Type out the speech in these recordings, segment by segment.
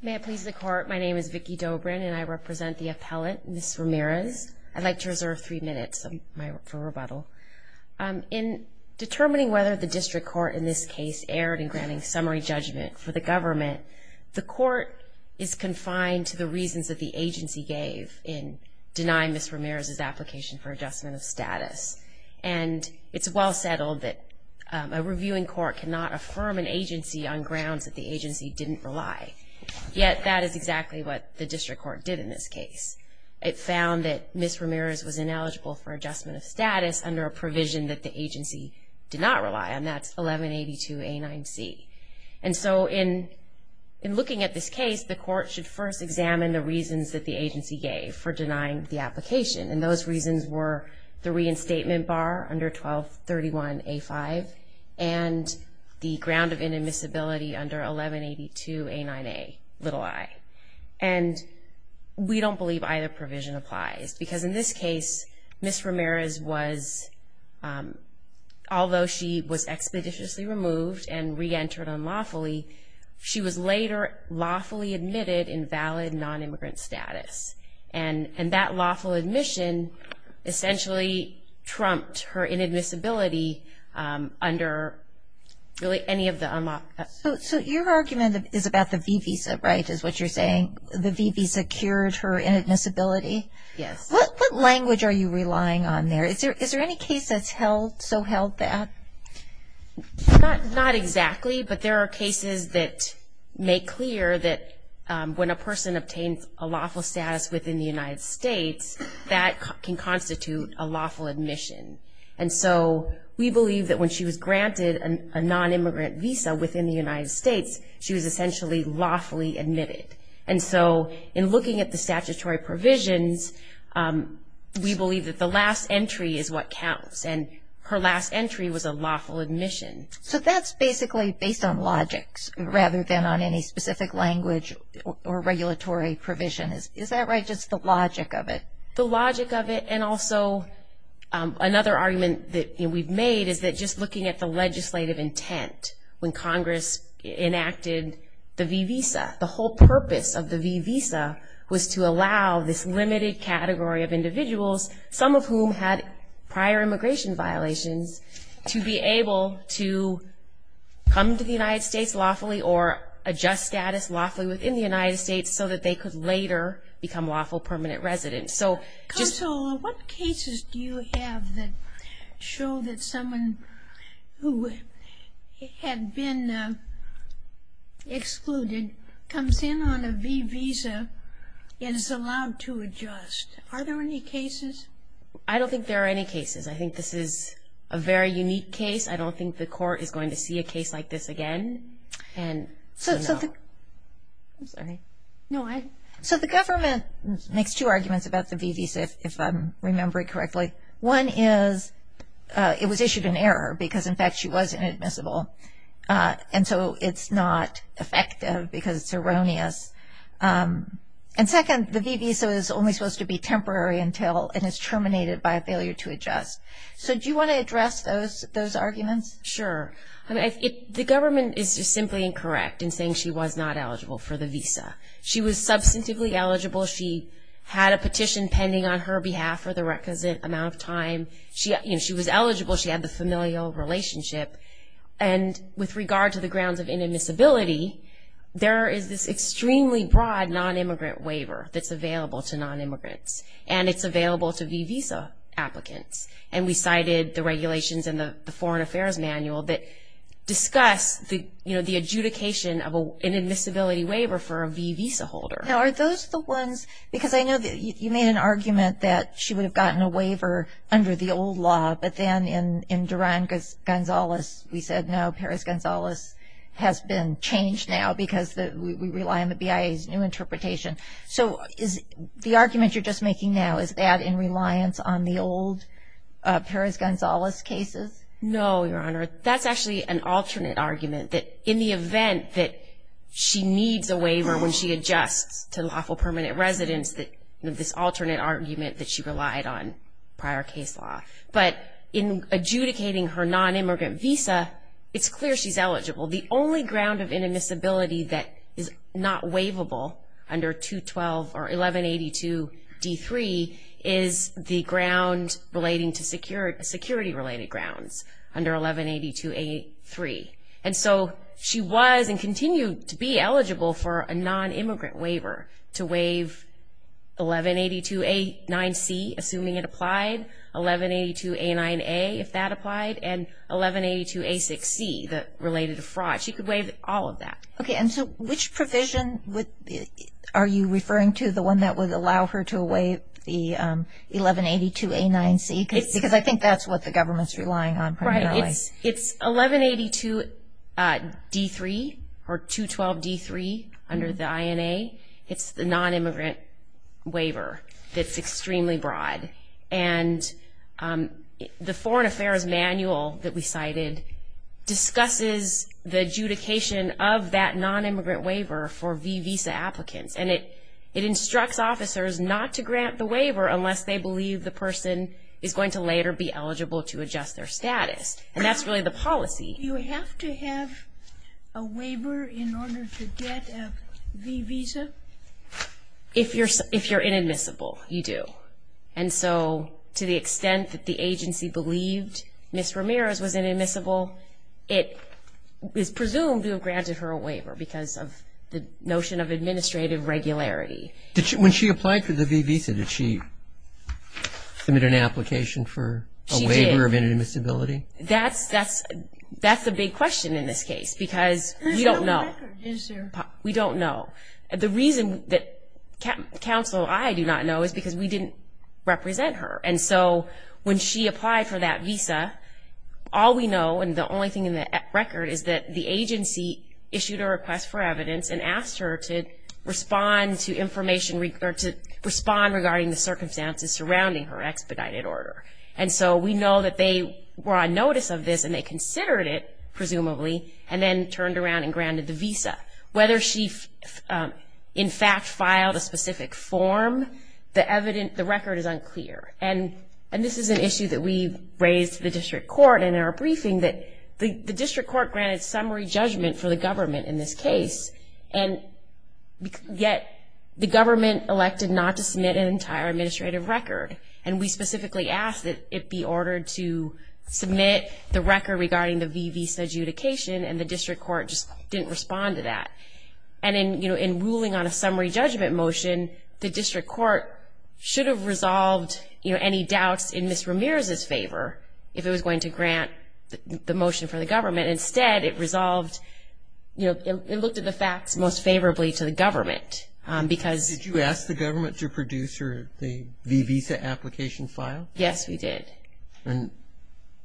May it please the court, my name is Vicky Dobrin and I represent the appellate, Ms. Ramirez. I'd like to reserve three minutes for rebuttal. In determining whether the district court in this case erred in granting summary judgment for the government, the court is confined to the reasons that the agency gave in denying Ms. Ramirez's application for adjustment of status. And it's well settled that a reviewing court cannot affirm an agency on grounds that the agency didn't rely. Yet that is exactly what the district court did in this case. It found that Ms. Ramirez was ineligible for adjustment of status under a provision that the agency did not rely on. That's 1182A9C. And so in looking at this case, the court should first examine the reasons that the agency gave for denying the application. And those reasons were the reinstatement bar under 1231A5 and the ground of inadmissibility under 1182A9A, little i. And we don't believe either provision applies because in this case, Ms. Ramirez was, although she was expeditiously removed and reentered unlawfully, she was later lawfully admitted in valid non-immigrant status. And that lawful admission essentially trumped her inadmissibility under really any of the unlawful. So your argument is about the V visa, right, is what you're saying? The V visa cured her inadmissibility? Yes. What language are you relying on there? Is there any case that's so held that? Not exactly, but there are cases that make clear that when a person obtains a lawful status within the United States, that can constitute a lawful admission. And so we believe that when she was granted a non-immigrant visa within the United States, she was essentially lawfully admitted. And so in looking at the statutory provisions, we believe that the last entry is what counts. And her last entry was a lawful admission. So that's basically based on logics rather than on any specific language or regulatory provision. Is that right, just the logic of it? The logic of it and also another argument that we've made is that just looking at the legislative intent, when Congress enacted the V visa, the whole purpose of the V visa was to allow this limited category of individuals, some of whom had prior immigration violations, to be able to come to the United States lawfully or adjust status lawfully within the United States so that they could later become lawful permanent residents. Counsel, what cases do you have that show that someone who had been excluded comes in on a V visa and is allowed to adjust? Are there any cases? I don't think there are any cases. I think this is a very unique case. I don't think the court is going to see a case like this again. So the government makes two arguments about the V visa, if I'm remembering correctly. One is it was issued in error because, in fact, she was inadmissible. And so it's not effective because it's erroneous. And second, the V visa is only supposed to be temporary until it is terminated by a failure to adjust. So do you want to address those arguments? Sure. The government is just simply incorrect in saying she was not eligible for the visa. She was substantively eligible. She had a petition pending on her behalf for the requisite amount of time. She was eligible. She had the familial relationship. And with regard to the grounds of inadmissibility, there is this extremely broad nonimmigrant waiver that's available to nonimmigrants, and it's available to V visa applicants. And we cited the regulations in the Foreign Affairs Manual that discuss the adjudication of an inadmissibility waiver for a V visa holder. Now, are those the ones? Because I know that you made an argument that she would have gotten a waiver under the old law, but then in Duran-Gonzalez we said, no, Perez-Gonzalez has been changed now because we rely on the BIA's new interpretation. So the argument you're just making now, is that in reliance on the old Perez-Gonzalez cases? No, Your Honor. That's actually an alternate argument, that in the event that she needs a waiver when she adjusts to lawful permanent residence, this alternate argument that she relied on prior case law. But in adjudicating her nonimmigrant visa, it's clear she's eligible. The only ground of inadmissibility that is not waivable under 212 or 1182-D3 is the security-related grounds under 1182-A3. And so she was and continued to be eligible for a nonimmigrant waiver to waive 1182-9C, assuming it applied, 1182-A9A if that applied, and 1182-A6C related to fraud. She could waive all of that. Okay, and so which provision are you referring to, the one that would allow her to waive the 1182-A9C? Because I think that's what the government's relying on primarily. Right, it's 1182-D3 or 212-D3 under the INA. It's the nonimmigrant waiver that's extremely broad. And the Foreign Affairs Manual that we cited discusses the adjudication of that nonimmigrant waiver for visa applicants. And it instructs officers not to grant the waiver unless they believe the person is going to later be eligible to adjust their status. And that's really the policy. Do you have to have a waiver in order to get a visa? If you're inadmissible, you do. And so to the extent that the agency believed Ms. Ramirez was inadmissible, it is presumed to have granted her a waiver because of the notion of administrative regularity. When she applied for the visa, did she submit an application for a waiver of inadmissibility? That's a big question in this case because we don't know. There's no record, is there? We don't know. The reason that counsel and I do not know is because we didn't represent her. And so when she applied for that visa, all we know, and the only thing in the record is that the agency issued a request for evidence and asked her to respond to information regarding the circumstances surrounding her expedited order. And so we know that they were on notice of this and they considered it, presumably, and then turned around and granted the visa. Whether she in fact filed a specific form, the record is unclear. And this is an issue that we raised to the district court in our briefing, that the district court granted summary judgment for the government in this case, and yet the government elected not to submit an entire administrative record. And we specifically asked that it be ordered to submit the record regarding the visa adjudication, and the district court just didn't respond to that. And in ruling on a summary judgment motion, the district court should have resolved any doubts in Ms. Ramirez's favor if it was going to grant the motion for the government. Instead, it looked at the facts most favorably to the government. Did you ask the government to produce the visa application file? Yes, we did. And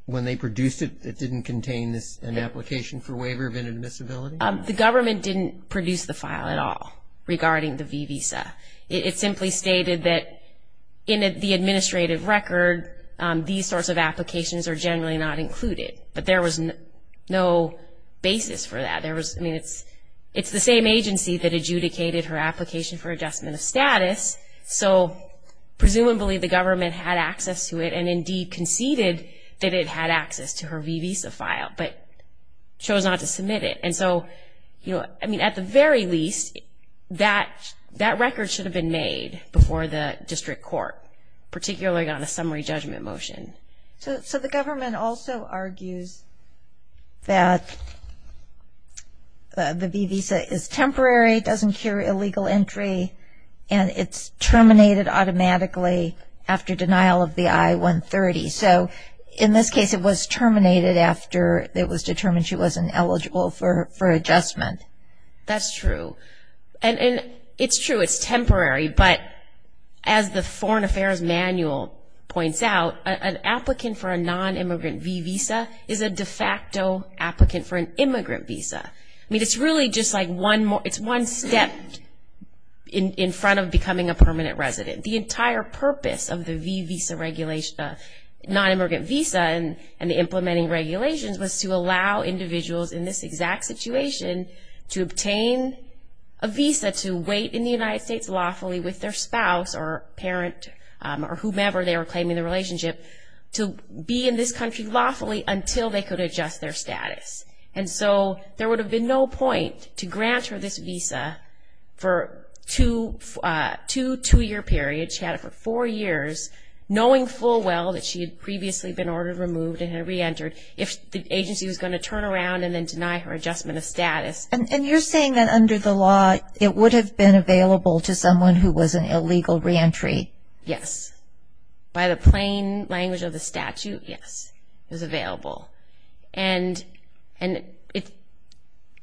when they produced it, it didn't contain an application for waiver of inadmissibility? The government didn't produce the file at all regarding the visa. It simply stated that in the administrative record, these sorts of applications are generally not included. But there was no basis for that. It's the same agency that adjudicated her application for adjustment of status, so presumably the government had access to it and indeed conceded that it had access to her visa file, but chose not to submit it. And so at the very least, that record should have been made before the district court, particularly on a summary judgment motion. So the government also argues that the visa is temporary, doesn't cure illegal entry, and it's terminated automatically after denial of the I-130. So in this case, it was terminated after it was determined she wasn't eligible for adjustment. That's true. And it's true, it's temporary. But as the Foreign Affairs Manual points out, an applicant for a nonimmigrant visa is a de facto applicant for an immigrant visa. I mean, it's really just like one step in front of becoming a permanent resident. The entire purpose of the nonimmigrant visa and the implementing regulations was to allow individuals in this exact situation to obtain a visa to wait in the United States lawfully with their spouse or parent or whomever they were claiming the relationship to be in this country lawfully until they could adjust their status. And so there would have been no point to grant her this visa for two two-year periods. She had it for four years, knowing full well that she had previously been ordered removed and had reentered if the agency was going to turn around and then deny her adjustment of status. And you're saying that under the law, it would have been available to someone who was an illegal reentry? Yes. By the plain language of the statute, yes, it was available. And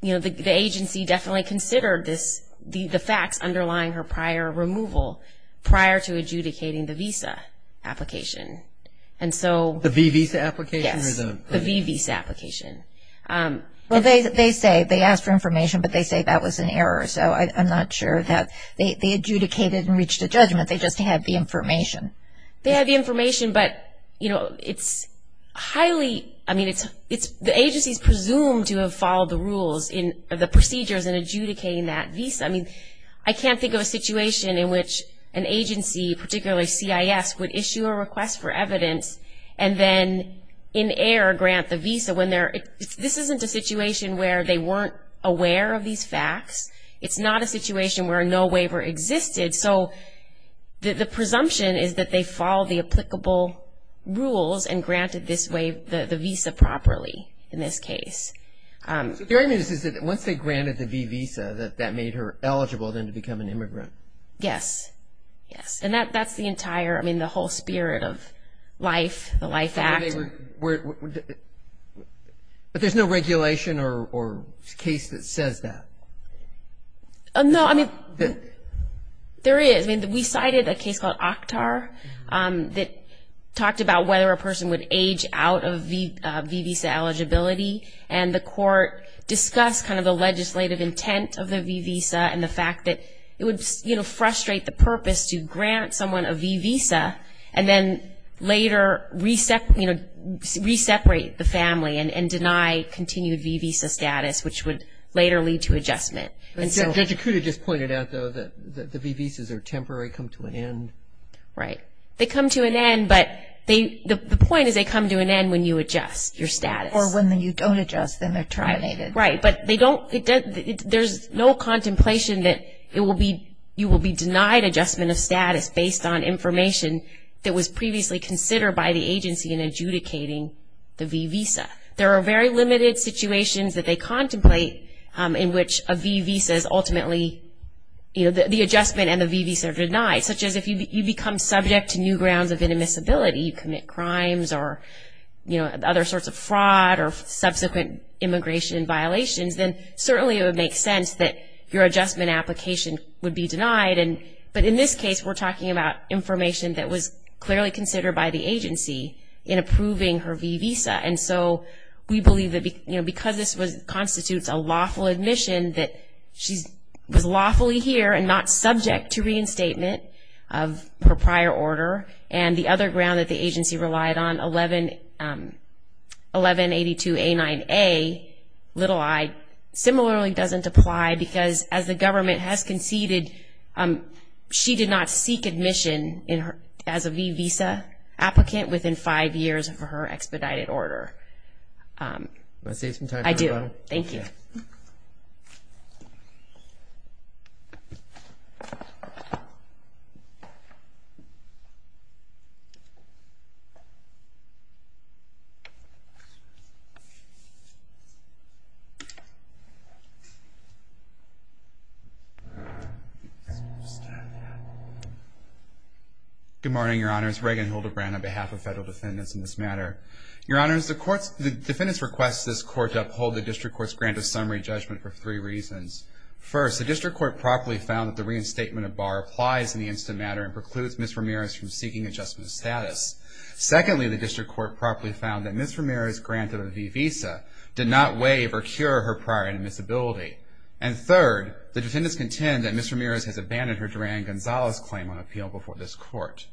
the agency definitely considered the facts underlying her prior removal prior to adjudicating the visa application. The visa application? Yes, the visa application. Well, they say they asked for information, but they say that was an error. So I'm not sure that they adjudicated and reached a judgment. They just had the information. They had the information, but, you know, it's highly, I mean, the agency is presumed to have followed the rules in the procedures in adjudicating that visa. I mean, I can't think of a situation in which an agency, particularly CIS, would issue a request for evidence and then in error grant the visa when they're ‑‑ this isn't a situation where they weren't aware of these facts. It's not a situation where a no waiver existed. So the presumption is that they followed the applicable rules and granted the visa properly in this case. So what you're saying is that once they granted the visa, that that made her eligible then to become an immigrant? Yes, yes. And that's the entire, I mean, the whole spirit of life, the Life Act. But there's no regulation or case that says that. No, I mean, there is. I mean, we cited a case called Oktar that talked about whether a person would age out of visa eligibility, and the court discussed kind of the legislative intent of the visa and the fact that it would frustrate the purpose to grant someone a V visa and then later reseparate the family and deny continued V visa status, which would later lead to adjustment. Judge Okuda just pointed out, though, that the V visas are temporary, come to an end. Right. They come to an end, but the point is they come to an end when you adjust your status. Or when you don't adjust, then they're terminated. Right. But there's no contemplation that you will be denied adjustment of status based on information that was previously considered by the agency in adjudicating the V visa. There are very limited situations that they contemplate in which a V visa is ultimately, you know, the adjustment and the V visa are denied, such as if you become subject to new grounds of inadmissibility, you commit crimes or, you know, other sorts of fraud or subsequent immigration violations, then certainly it would make sense that your adjustment application would be denied. But in this case, we're talking about information that was clearly considered by the agency in approving her V visa. And so we believe that, you know, because this constitutes a lawful admission that she was lawfully here and not subject to reinstatement of her prior order. And the other ground that the agency relied on, 1182A9A, little i, similarly doesn't apply because as the government has conceded, she did not seek admission as a V visa applicant within five years of her expedited order. Do you want to save some time? I do. Thank you. Good morning, Your Honors. Reagan Hildebrand on behalf of federal defendants in this matter. Your Honors, the defendants request this court to uphold the district court's grant of summary judgment for three reasons. First, the district court properly found that the reinstatement of Barr applies in the instant matter and precludes Ms. Ramirez from seeking adjustment of status. Secondly, the district court properly found that Ms. Ramirez granted a V visa did not waive or cure her prior inadmissibility. And third, the defendants contend that Ms. Ramirez has abandoned her Duran-Gonzalez claim on appeal before this court.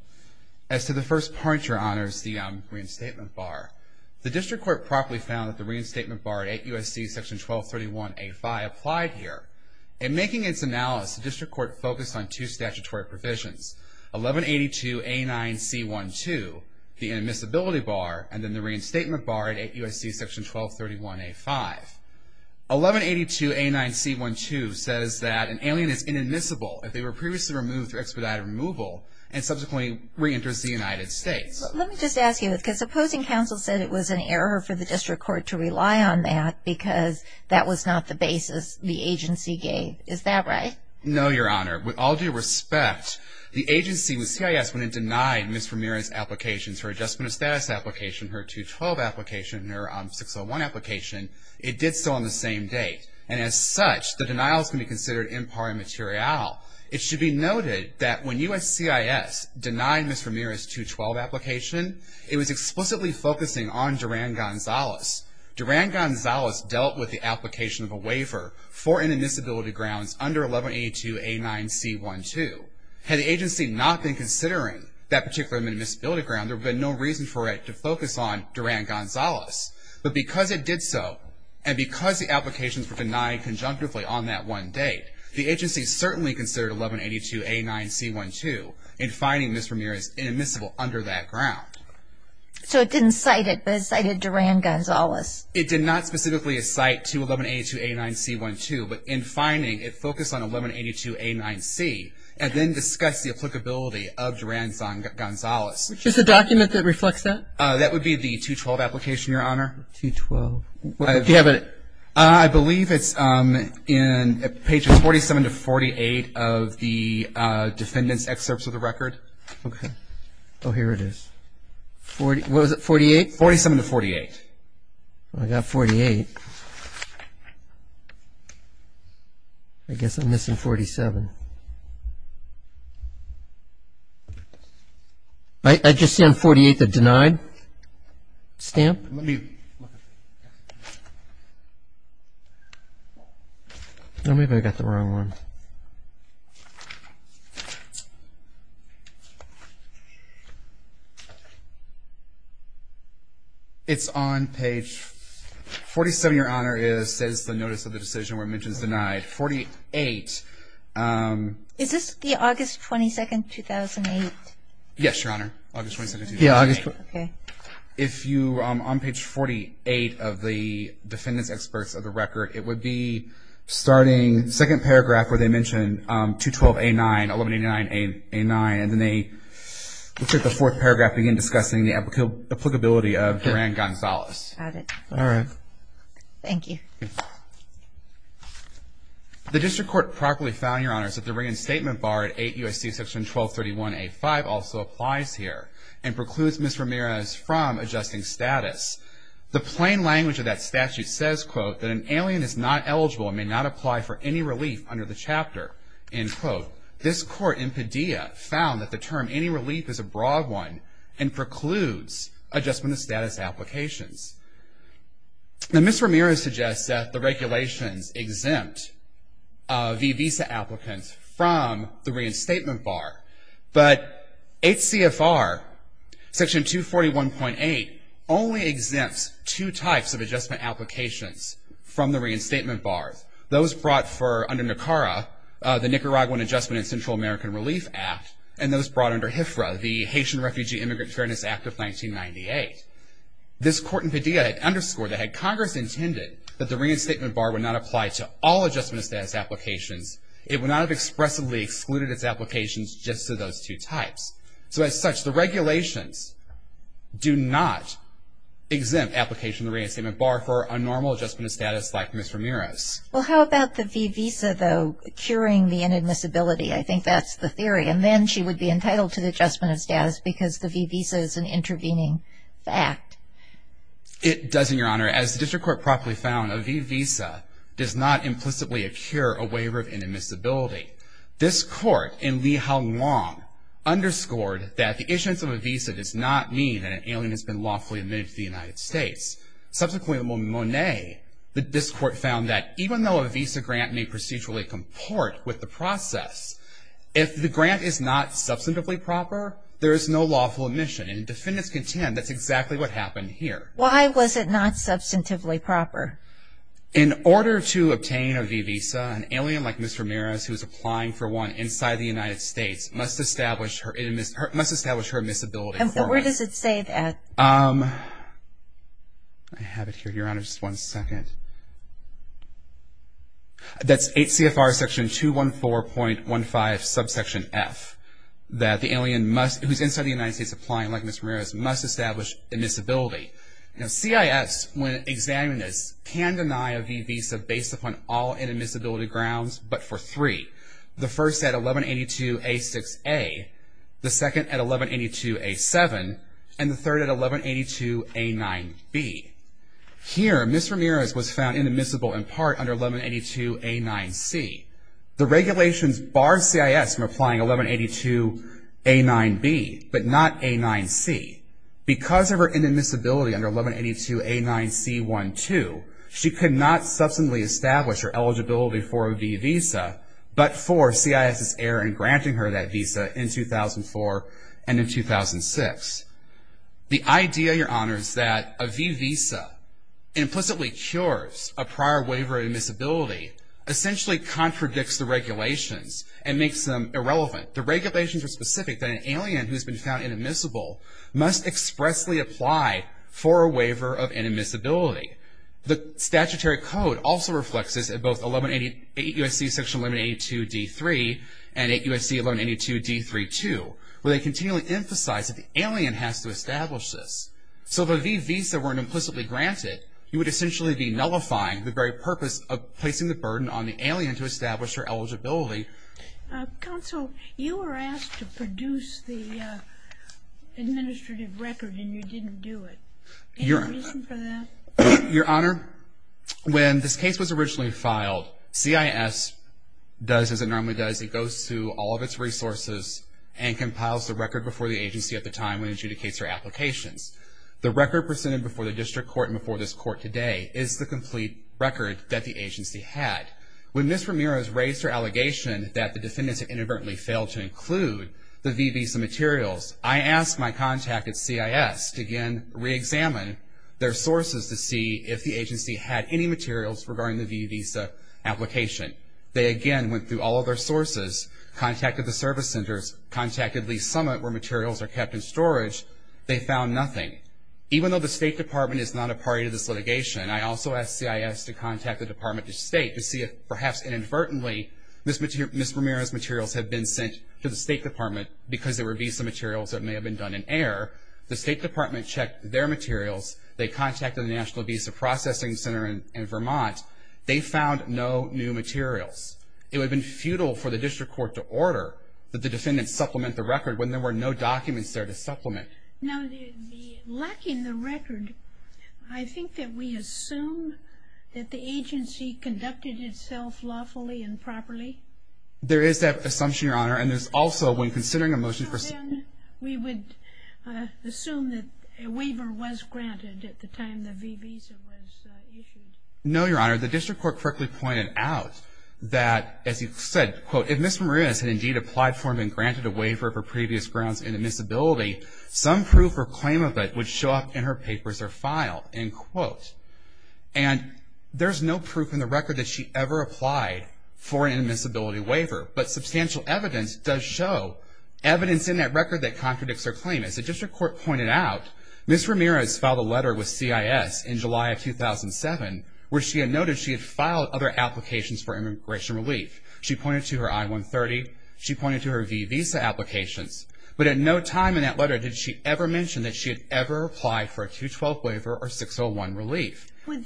As to the first part, Your Honors, the reinstatement bar, the district court properly found that the reinstatement bar at 8 U.S.C. section 1231A5 applied here. In making its analysis, the district court focused on two statutory provisions, 1182A9C12, the inadmissibility bar, and then the reinstatement bar at 8 U.S.C. section 1231A5. 1182A9C12 says that an alien is inadmissible if they were previously removed through expedited removal and subsequently reenters the United States. Let me just ask you, because opposing counsel said it was an error for the district court to rely on that because that was not the basis the agency gave. Is that right? No, Your Honor. With all due respect, the agency, the CIS, when it denied Ms. Ramirez's applications, her adjustment of status application, her 212 application, and her 601 application, it did so on the same date. And as such, the denial is going to be considered impar immaterial. Now, it should be noted that when U.S.CIS denied Ms. Ramirez's 212 application, it was explicitly focusing on Duran Gonzalez. Duran Gonzalez dealt with the application of a waiver for inadmissibility grounds under 1182A9C12. Had the agency not been considering that particular inadmissibility ground, there would have been no reason for it to focus on Duran Gonzalez. But because it did so, and because the applications were denied conjunctively on that one date, the agency certainly considered 1182A9C12 in finding Ms. Ramirez inadmissible under that ground. So it didn't cite it, but it cited Duran Gonzalez. It did not specifically cite to 1182A9C12, but in finding, it focused on 1182A9C and then discussed the applicability of Duran Gonzalez. Which is the document that reflects that? That would be the 212 application, Your Honor. 212. Do you have it? I believe it's in pages 47 to 48 of the defendant's excerpts of the record. Okay. Oh, here it is. What was it, 48? 47 to 48. I got 48. I guess I'm missing 47. I just see on 48 the denied stamp. Let me look at it. Maybe I got the wrong one. It's on page 47, Your Honor, it says the notice of the decision where it mentions denied. 48. Is this the August 22, 2008? Yes, Your Honor, August 22, 2008. If you're on page 48 of the defendant's excerpts of the record, it would be starting the second paragraph where they mention 212A9, 1189A9, and then they look at the fourth paragraph, begin discussing the applicability of Duran Gonzalez. Got it. All right. The district court properly found, Your Honor, that the reinstatement bar at 8 U.S.C. section 1231A5 also applies here and precludes Ms. Ramirez from adjusting status. The plain language of that statute says, quote, that an alien is not eligible and may not apply for any relief under the chapter. End quote. This court in Padilla found that the term any relief is a broad one and precludes adjustment of status applications. Ms. Ramirez suggests that the regulations exempt the visa applicants from the reinstatement bar, but HCFR section 241.8 only exempts two types of adjustment applications from the reinstatement bar. Those brought for under NACARA, the Nicaraguan Adjustment and Central American Relief Act, and those brought under HIFRA, the Haitian Refugee Immigrant Fairness Act of 1998. This court in Padilla had underscored that had Congress intended that the reinstatement bar would not apply to all adjustment of status applications, it would not have expressively excluded its applications just to those two types. So as such, the regulations do not exempt application of the reinstatement bar for a normal adjustment of status like Ms. Ramirez. Well, how about the V visa, though, curing the inadmissibility? I think that's the theory. And then she would be entitled to the adjustment of status because the V visa is an intervening fact. It doesn't, Your Honor. As the district court properly found, a V visa does not implicitly cure a waiver of inadmissibility. This court in Lee-Hal Nguyen underscored that the issuance of a visa does not mean that an alien has been lawfully admitted to the United States. Subsequently, in Monet, this court found that even though a visa grant may procedurally comport with the process, if the grant is not substantively proper, there is no lawful admission. And defendants contend that's exactly what happened here. Why was it not substantively proper? In order to obtain a V visa, an alien like Ms. Ramirez, who is applying for one inside the United States, must establish her admissibility. And where does it say that? I have it here, Your Honor, just one second. That's 8 CFR section 214.15 subsection F. That the alien who is inside the United States applying like Ms. Ramirez must establish admissibility. Now CIS, when examining this, can deny a V visa based upon all inadmissibility grounds but for three. The first at 1182A6A, the second at 1182A7, and the third at 1182A9B. Here Ms. Ramirez was found inadmissible in part under 1182A9C. The regulations bar CIS from applying 1182A9B but not A9C. Because of her inadmissibility under 1182A9C12, she could not substantively establish her eligibility for a V visa, but for CIS's error in granting her that visa in 2004 and in 2006. The idea, Your Honor, is that a V visa implicitly cures a prior waiver of admissibility, essentially contradicts the regulations and makes them irrelevant. The regulations are specific that an alien who has been found inadmissible must expressly apply for a waiver of inadmissibility. The statutory code also reflects this at both 8 USC section 1182D3 and 8 USC 1182D32, where they continually emphasize that the alien has to establish this. So if a V visa weren't implicitly granted, you would essentially be nullifying the very purpose of placing the burden on the alien to establish her eligibility. Counsel, you were asked to produce the administrative record and you didn't do it. Any reason for that? Your Honor, when this case was originally filed, CIS does as it normally does. It goes through all of its resources and compiles the record before the agency at the time when it adjudicates her applications. The record presented before the district court and before this court today is the complete record that the agency had. When Ms. Ramirez raised her allegation that the defendants had inadvertently failed to include the V visa materials, I asked my contact at CIS to again reexamine their sources to see if the agency had any materials regarding the V visa application. They again went through all of their sources, contacted the service centers, contacted Lease Summit where materials are kept in storage. They found nothing. Even though the State Department is not a party to this litigation, I also asked CIS to contact the Department of State to see if perhaps inadvertently Ms. Ramirez's materials had been sent to the State Department because they were V visa materials that may have been done in error. The State Department checked their materials. They contacted the National Visa Processing Center in Vermont. They found no new materials. It would have been futile for the district court to order that the defendants supplement the record when there were no documents there to supplement. Now, lacking the record, I think that we assume that the agency conducted itself lawfully and properly. There is that assumption, Your Honor, and there's also when considering a motion for... So then we would assume that a waiver was granted at the time the V visa was issued. No, Your Honor. The district court correctly pointed out that, as he said, quote, if Ms. Ramirez had indeed applied for and been granted a waiver for previous grounds of inadmissibility, some proof or claim of it would show up in her papers or file, end quote. And there's no proof in the record that she ever applied for an inadmissibility waiver, but substantial evidence does show evidence in that record that contradicts her claim. As the district court pointed out, Ms. Ramirez filed a letter with CIS in July of 2007 where she had noted she had filed other applications for immigration relief. She pointed to her I-130. She pointed to her V visa applications. But at no time in that letter did she ever mention that she had ever applied for a 212 waiver or 601 relief. Would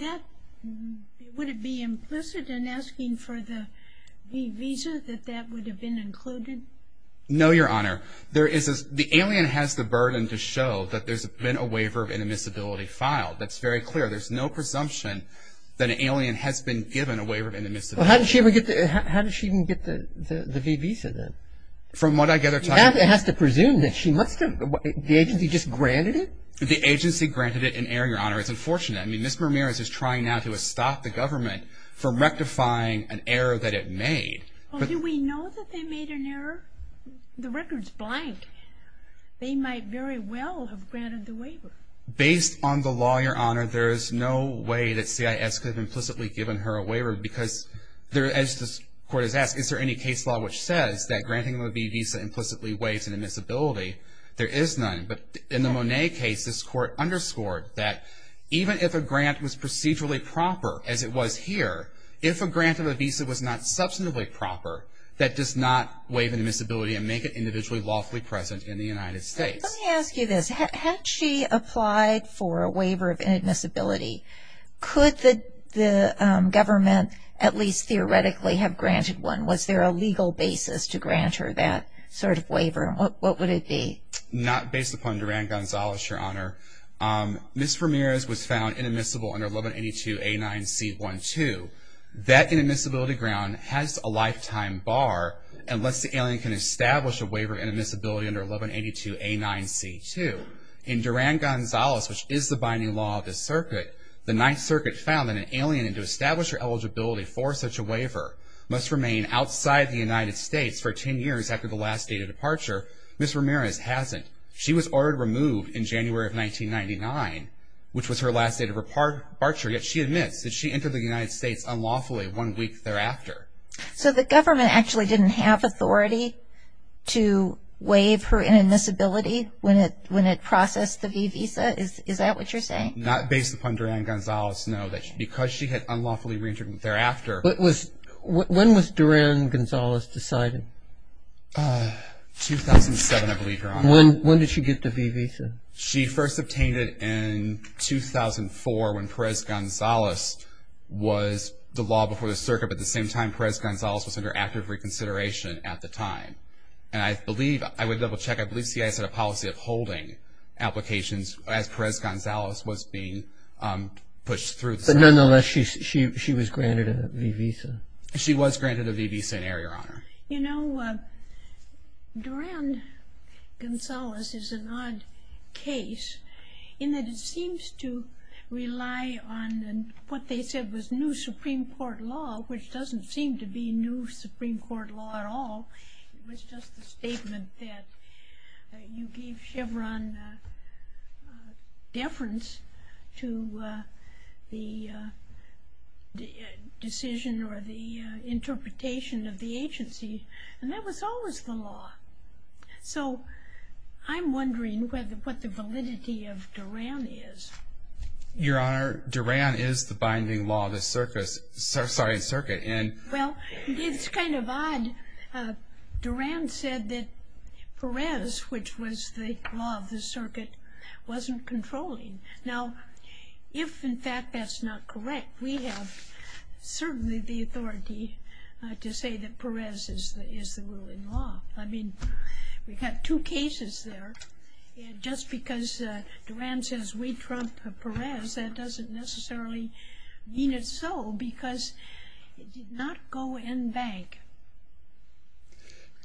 it be implicit in asking for the V visa that that would have been included? No, Your Honor. The alien has the burden to show that there's been a waiver of inadmissibility filed. That's very clear. There's no presumption that an alien has been given a waiver of inadmissibility. Well, how did she even get the V visa then? From what I gather. She has to presume that she must have. The agency just granted it? The agency granted it in error, Your Honor. It's unfortunate. I mean, Ms. Ramirez is trying now to stop the government from rectifying an error that it made. Do we know that they made an error? The record's blank. They might very well have granted the waiver. Based on the law, Your Honor, there is no way that CIS could have implicitly given her a waiver because, as this Court has asked, is there any case law which says that granting a V visa implicitly waives an admissibility? There is none. But in the Monet case, this Court underscored that even if a grant was procedurally proper, as it was here, if a grant of a visa was not substantively proper, that does not waive an admissibility and make it individually lawfully present in the United States. Let me ask you this. Had she applied for a waiver of inadmissibility, could the government at least theoretically have granted one? Was there a legal basis to grant her that sort of waiver? Not based upon Duran-Gonzalez, Your Honor. Ms. Ramirez was found inadmissible under 1182A9C12. That inadmissibility ground has a lifetime bar unless the alien can establish a waiver of inadmissibility under 1182A9C2. In Duran-Gonzalez, which is the binding law of this circuit, the Ninth Circuit found that an alien, and to establish her eligibility for such a waiver, must remain outside the United States for 10 years after the last date of departure. Ms. Ramirez hasn't. She was ordered removed in January of 1999, which was her last date of departure, yet she admits that she entered the United States unlawfully one week thereafter. So the government actually didn't have authority to waive her inadmissibility when it processed the V visa? Is that what you're saying? Not based upon Duran-Gonzalez, no. Because she had unlawfully reentered thereafter. 2007, I believe, Your Honor. When did she get the V visa? She first obtained it in 2004 when Perez-Gonzalez was the law before the circuit, but at the same time Perez-Gonzalez was under active reconsideration at the time. And I believe, I would double check, I believe CIA set a policy of holding applications as Perez-Gonzalez was being pushed through the circuit. But nonetheless, she was granted a V visa? She was granted a V visa in error, Your Honor. You know, Duran-Gonzalez is an odd case in that it seems to rely on what they said was new Supreme Court law, which doesn't seem to be new Supreme Court law at all. It was just a statement that you gave Chevron deference to the decision or the interpretation of the agency. And that was always the law. So I'm wondering what the validity of Duran is. Your Honor, Duran is the binding law of the circuit. Well, it's kind of odd. Duran said that Perez, which was the law of the circuit, wasn't controlling. Now, if in fact that's not correct, we have certainly the authority to say that Perez is the ruling law. I mean, we've got two cases there. Just because Duran says we trump Perez, that doesn't necessarily mean it's so, because it did not go in bank.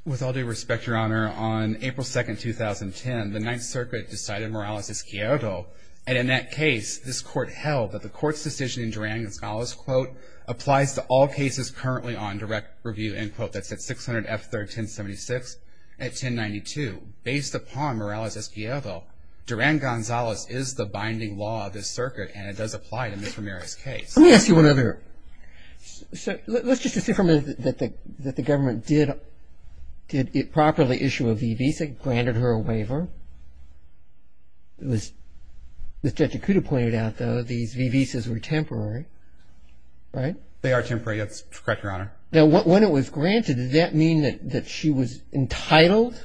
With all due respect, Your Honor, on April 2nd, 2010, the Ninth Circuit decided Morales-Escobedo. And in that case, this Court held that the Court's decision in Duran-Gonzalez applies to all cases currently on direct review, and that's at 600 F. 1376 at 1092. Based upon Morales-Escobedo, Duran-Gonzalez is the binding law of this circuit, and it does apply to Ms. Ramirez's case. Let me ask you one other. Let's just assume for a minute that the government did properly issue a V-Visa, granted her a waiver. As Judge Ikuda pointed out, though, these V-Visas were temporary, right? They are temporary. That's correct, Your Honor. Now, when it was granted, did that mean that she was entitled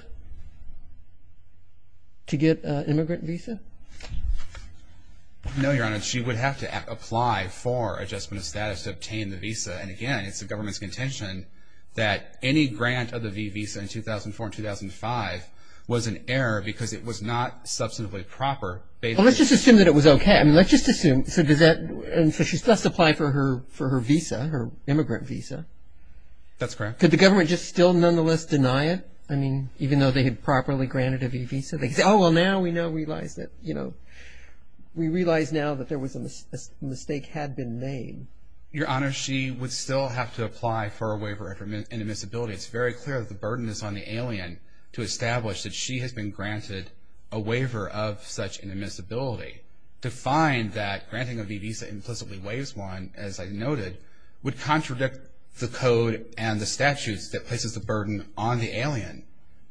to get an immigrant visa? No, Your Honor. She would have to apply for adjustment of status to obtain the visa. And, again, it's the government's contention that any grant of the V-Visa in 2004 and 2005 was an error because it was not substantively proper. Well, let's just assume that it was okay. I mean, let's just assume. And so she still has to apply for her visa, her immigrant visa. That's correct. Could the government just still nonetheless deny it? I mean, even though they had properly granted a V-Visa? They could say, oh, well, now we realize that, you know, we realize now that there was a mistake had been made. Your Honor, she would still have to apply for a waiver of inadmissibility. It's very clear that the burden is on the alien to establish that she has been granted a waiver of such inadmissibility. To find that granting a V-Visa implicitly waives one, as I noted, would contradict the code and the statutes that places the burden on the alien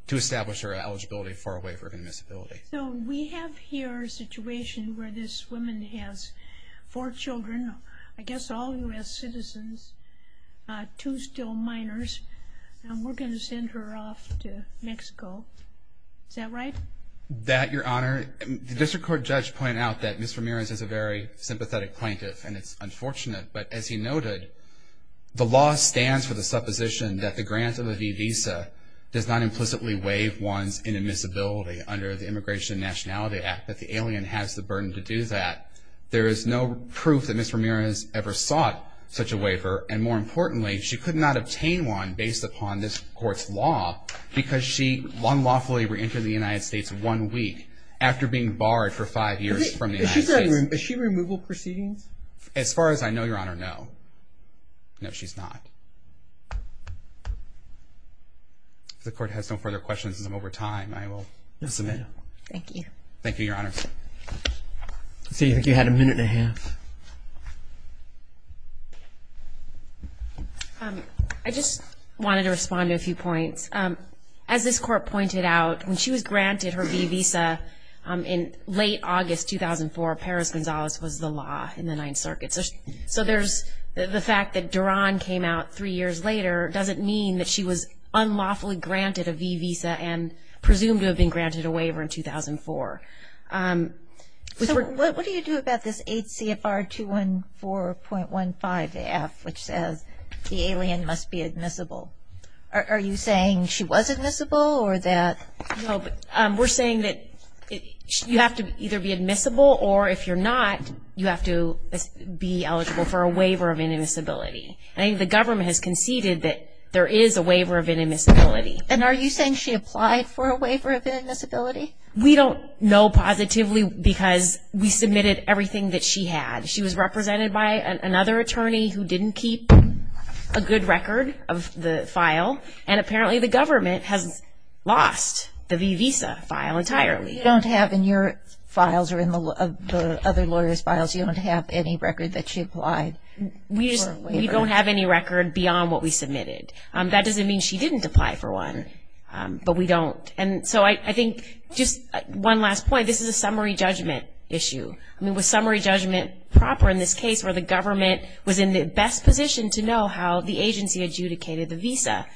to establish her eligibility for a waiver of inadmissibility. So we have here a situation where this woman has four children, I guess all U.S. citizens, two still minors, and we're going to send her off to Mexico. Is that right? That, Your Honor, the district court judge pointed out that Ms. Ramirez is a very sympathetic plaintiff, and it's unfortunate. But as he noted, the law stands for the supposition that the grant of a V-Visa does not implicitly waive one's inadmissibility under the Immigration and Nationality Act, that the alien has the burden to do that. There is no proof that Ms. Ramirez ever sought such a waiver, and more importantly, she could not obtain one based upon this court's law because she unlawfully reentered the United States one week after being barred for five years from the United States. Is she in removal proceedings? As far as I know, Your Honor, no. No, she's not. If the court has no further questions, as I'm over time, I will submit. Thank you. Thank you, Your Honor. Let's see, I think you had a minute and a half. I just wanted to respond to a few points. As this court pointed out, when she was granted her V-Visa in late August 2004, Perez-Gonzalez was the law in the Ninth Circuit. So the fact that Duran came out three years later doesn't mean that she was unlawfully granted a V-Visa and presumed to have been granted a waiver in 2004. What do you do about this 8 CFR 214.15-F, which says the alien must be admissible? Are you saying she was admissible or that? No, we're saying that you have to either be admissible, or if you're not, you have to be eligible for a waiver of inadmissibility. I think the government has conceded that there is a waiver of inadmissibility. And are you saying she applied for a waiver of inadmissibility? We don't know positively because we submitted everything that she had. She was represented by another attorney who didn't keep a good record of the file, and apparently the government has lost the V-Visa file entirely. You don't have in your files or in the other lawyers' files, you don't have any record that she applied for a waiver? We don't have any record beyond what we submitted. That doesn't mean she didn't apply for one, but we don't. And so I think just one last point, this is a summary judgment issue. I mean, was summary judgment proper in this case where the government was in the best position to know how the agency adjudicated the V-Visa?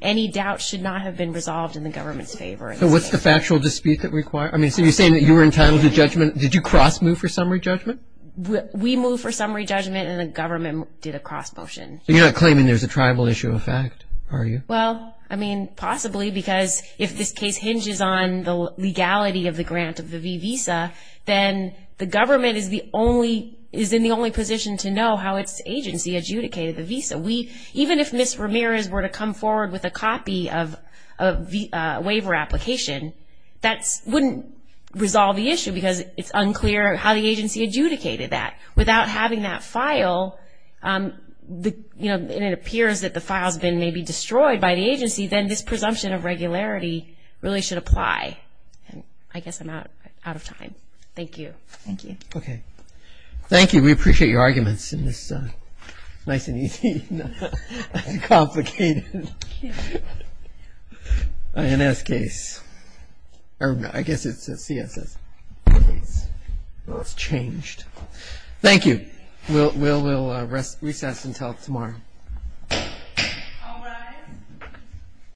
Any doubt should not have been resolved in the government's favor. So what's the factual dispute that required? I mean, so you're saying that you were entitled to judgment. Did you cross-move for summary judgment? We moved for summary judgment, and the government did a cross-motion. You're not claiming there's a tribal issue of fact, are you? Well, I mean, possibly because if this case hinges on the legality of the grant of the V-Visa, then the government is in the only position to know how its agency adjudicated the Visa. Even if Ms. Ramirez were to come forward with a copy of a waiver application, that wouldn't resolve the issue because it's unclear how the agency adjudicated that. Without having that file, and it appears that the file has been maybe destroyed by the agency, then this presumption of regularity really should apply. I guess I'm out of time. Thank you. Thank you. Okay. Thank you. We appreciate your arguments in this nice and easy and complicated INS case. I guess it's a CSS case. Well, it's changed. Thank you. We'll recess until tomorrow. All rise.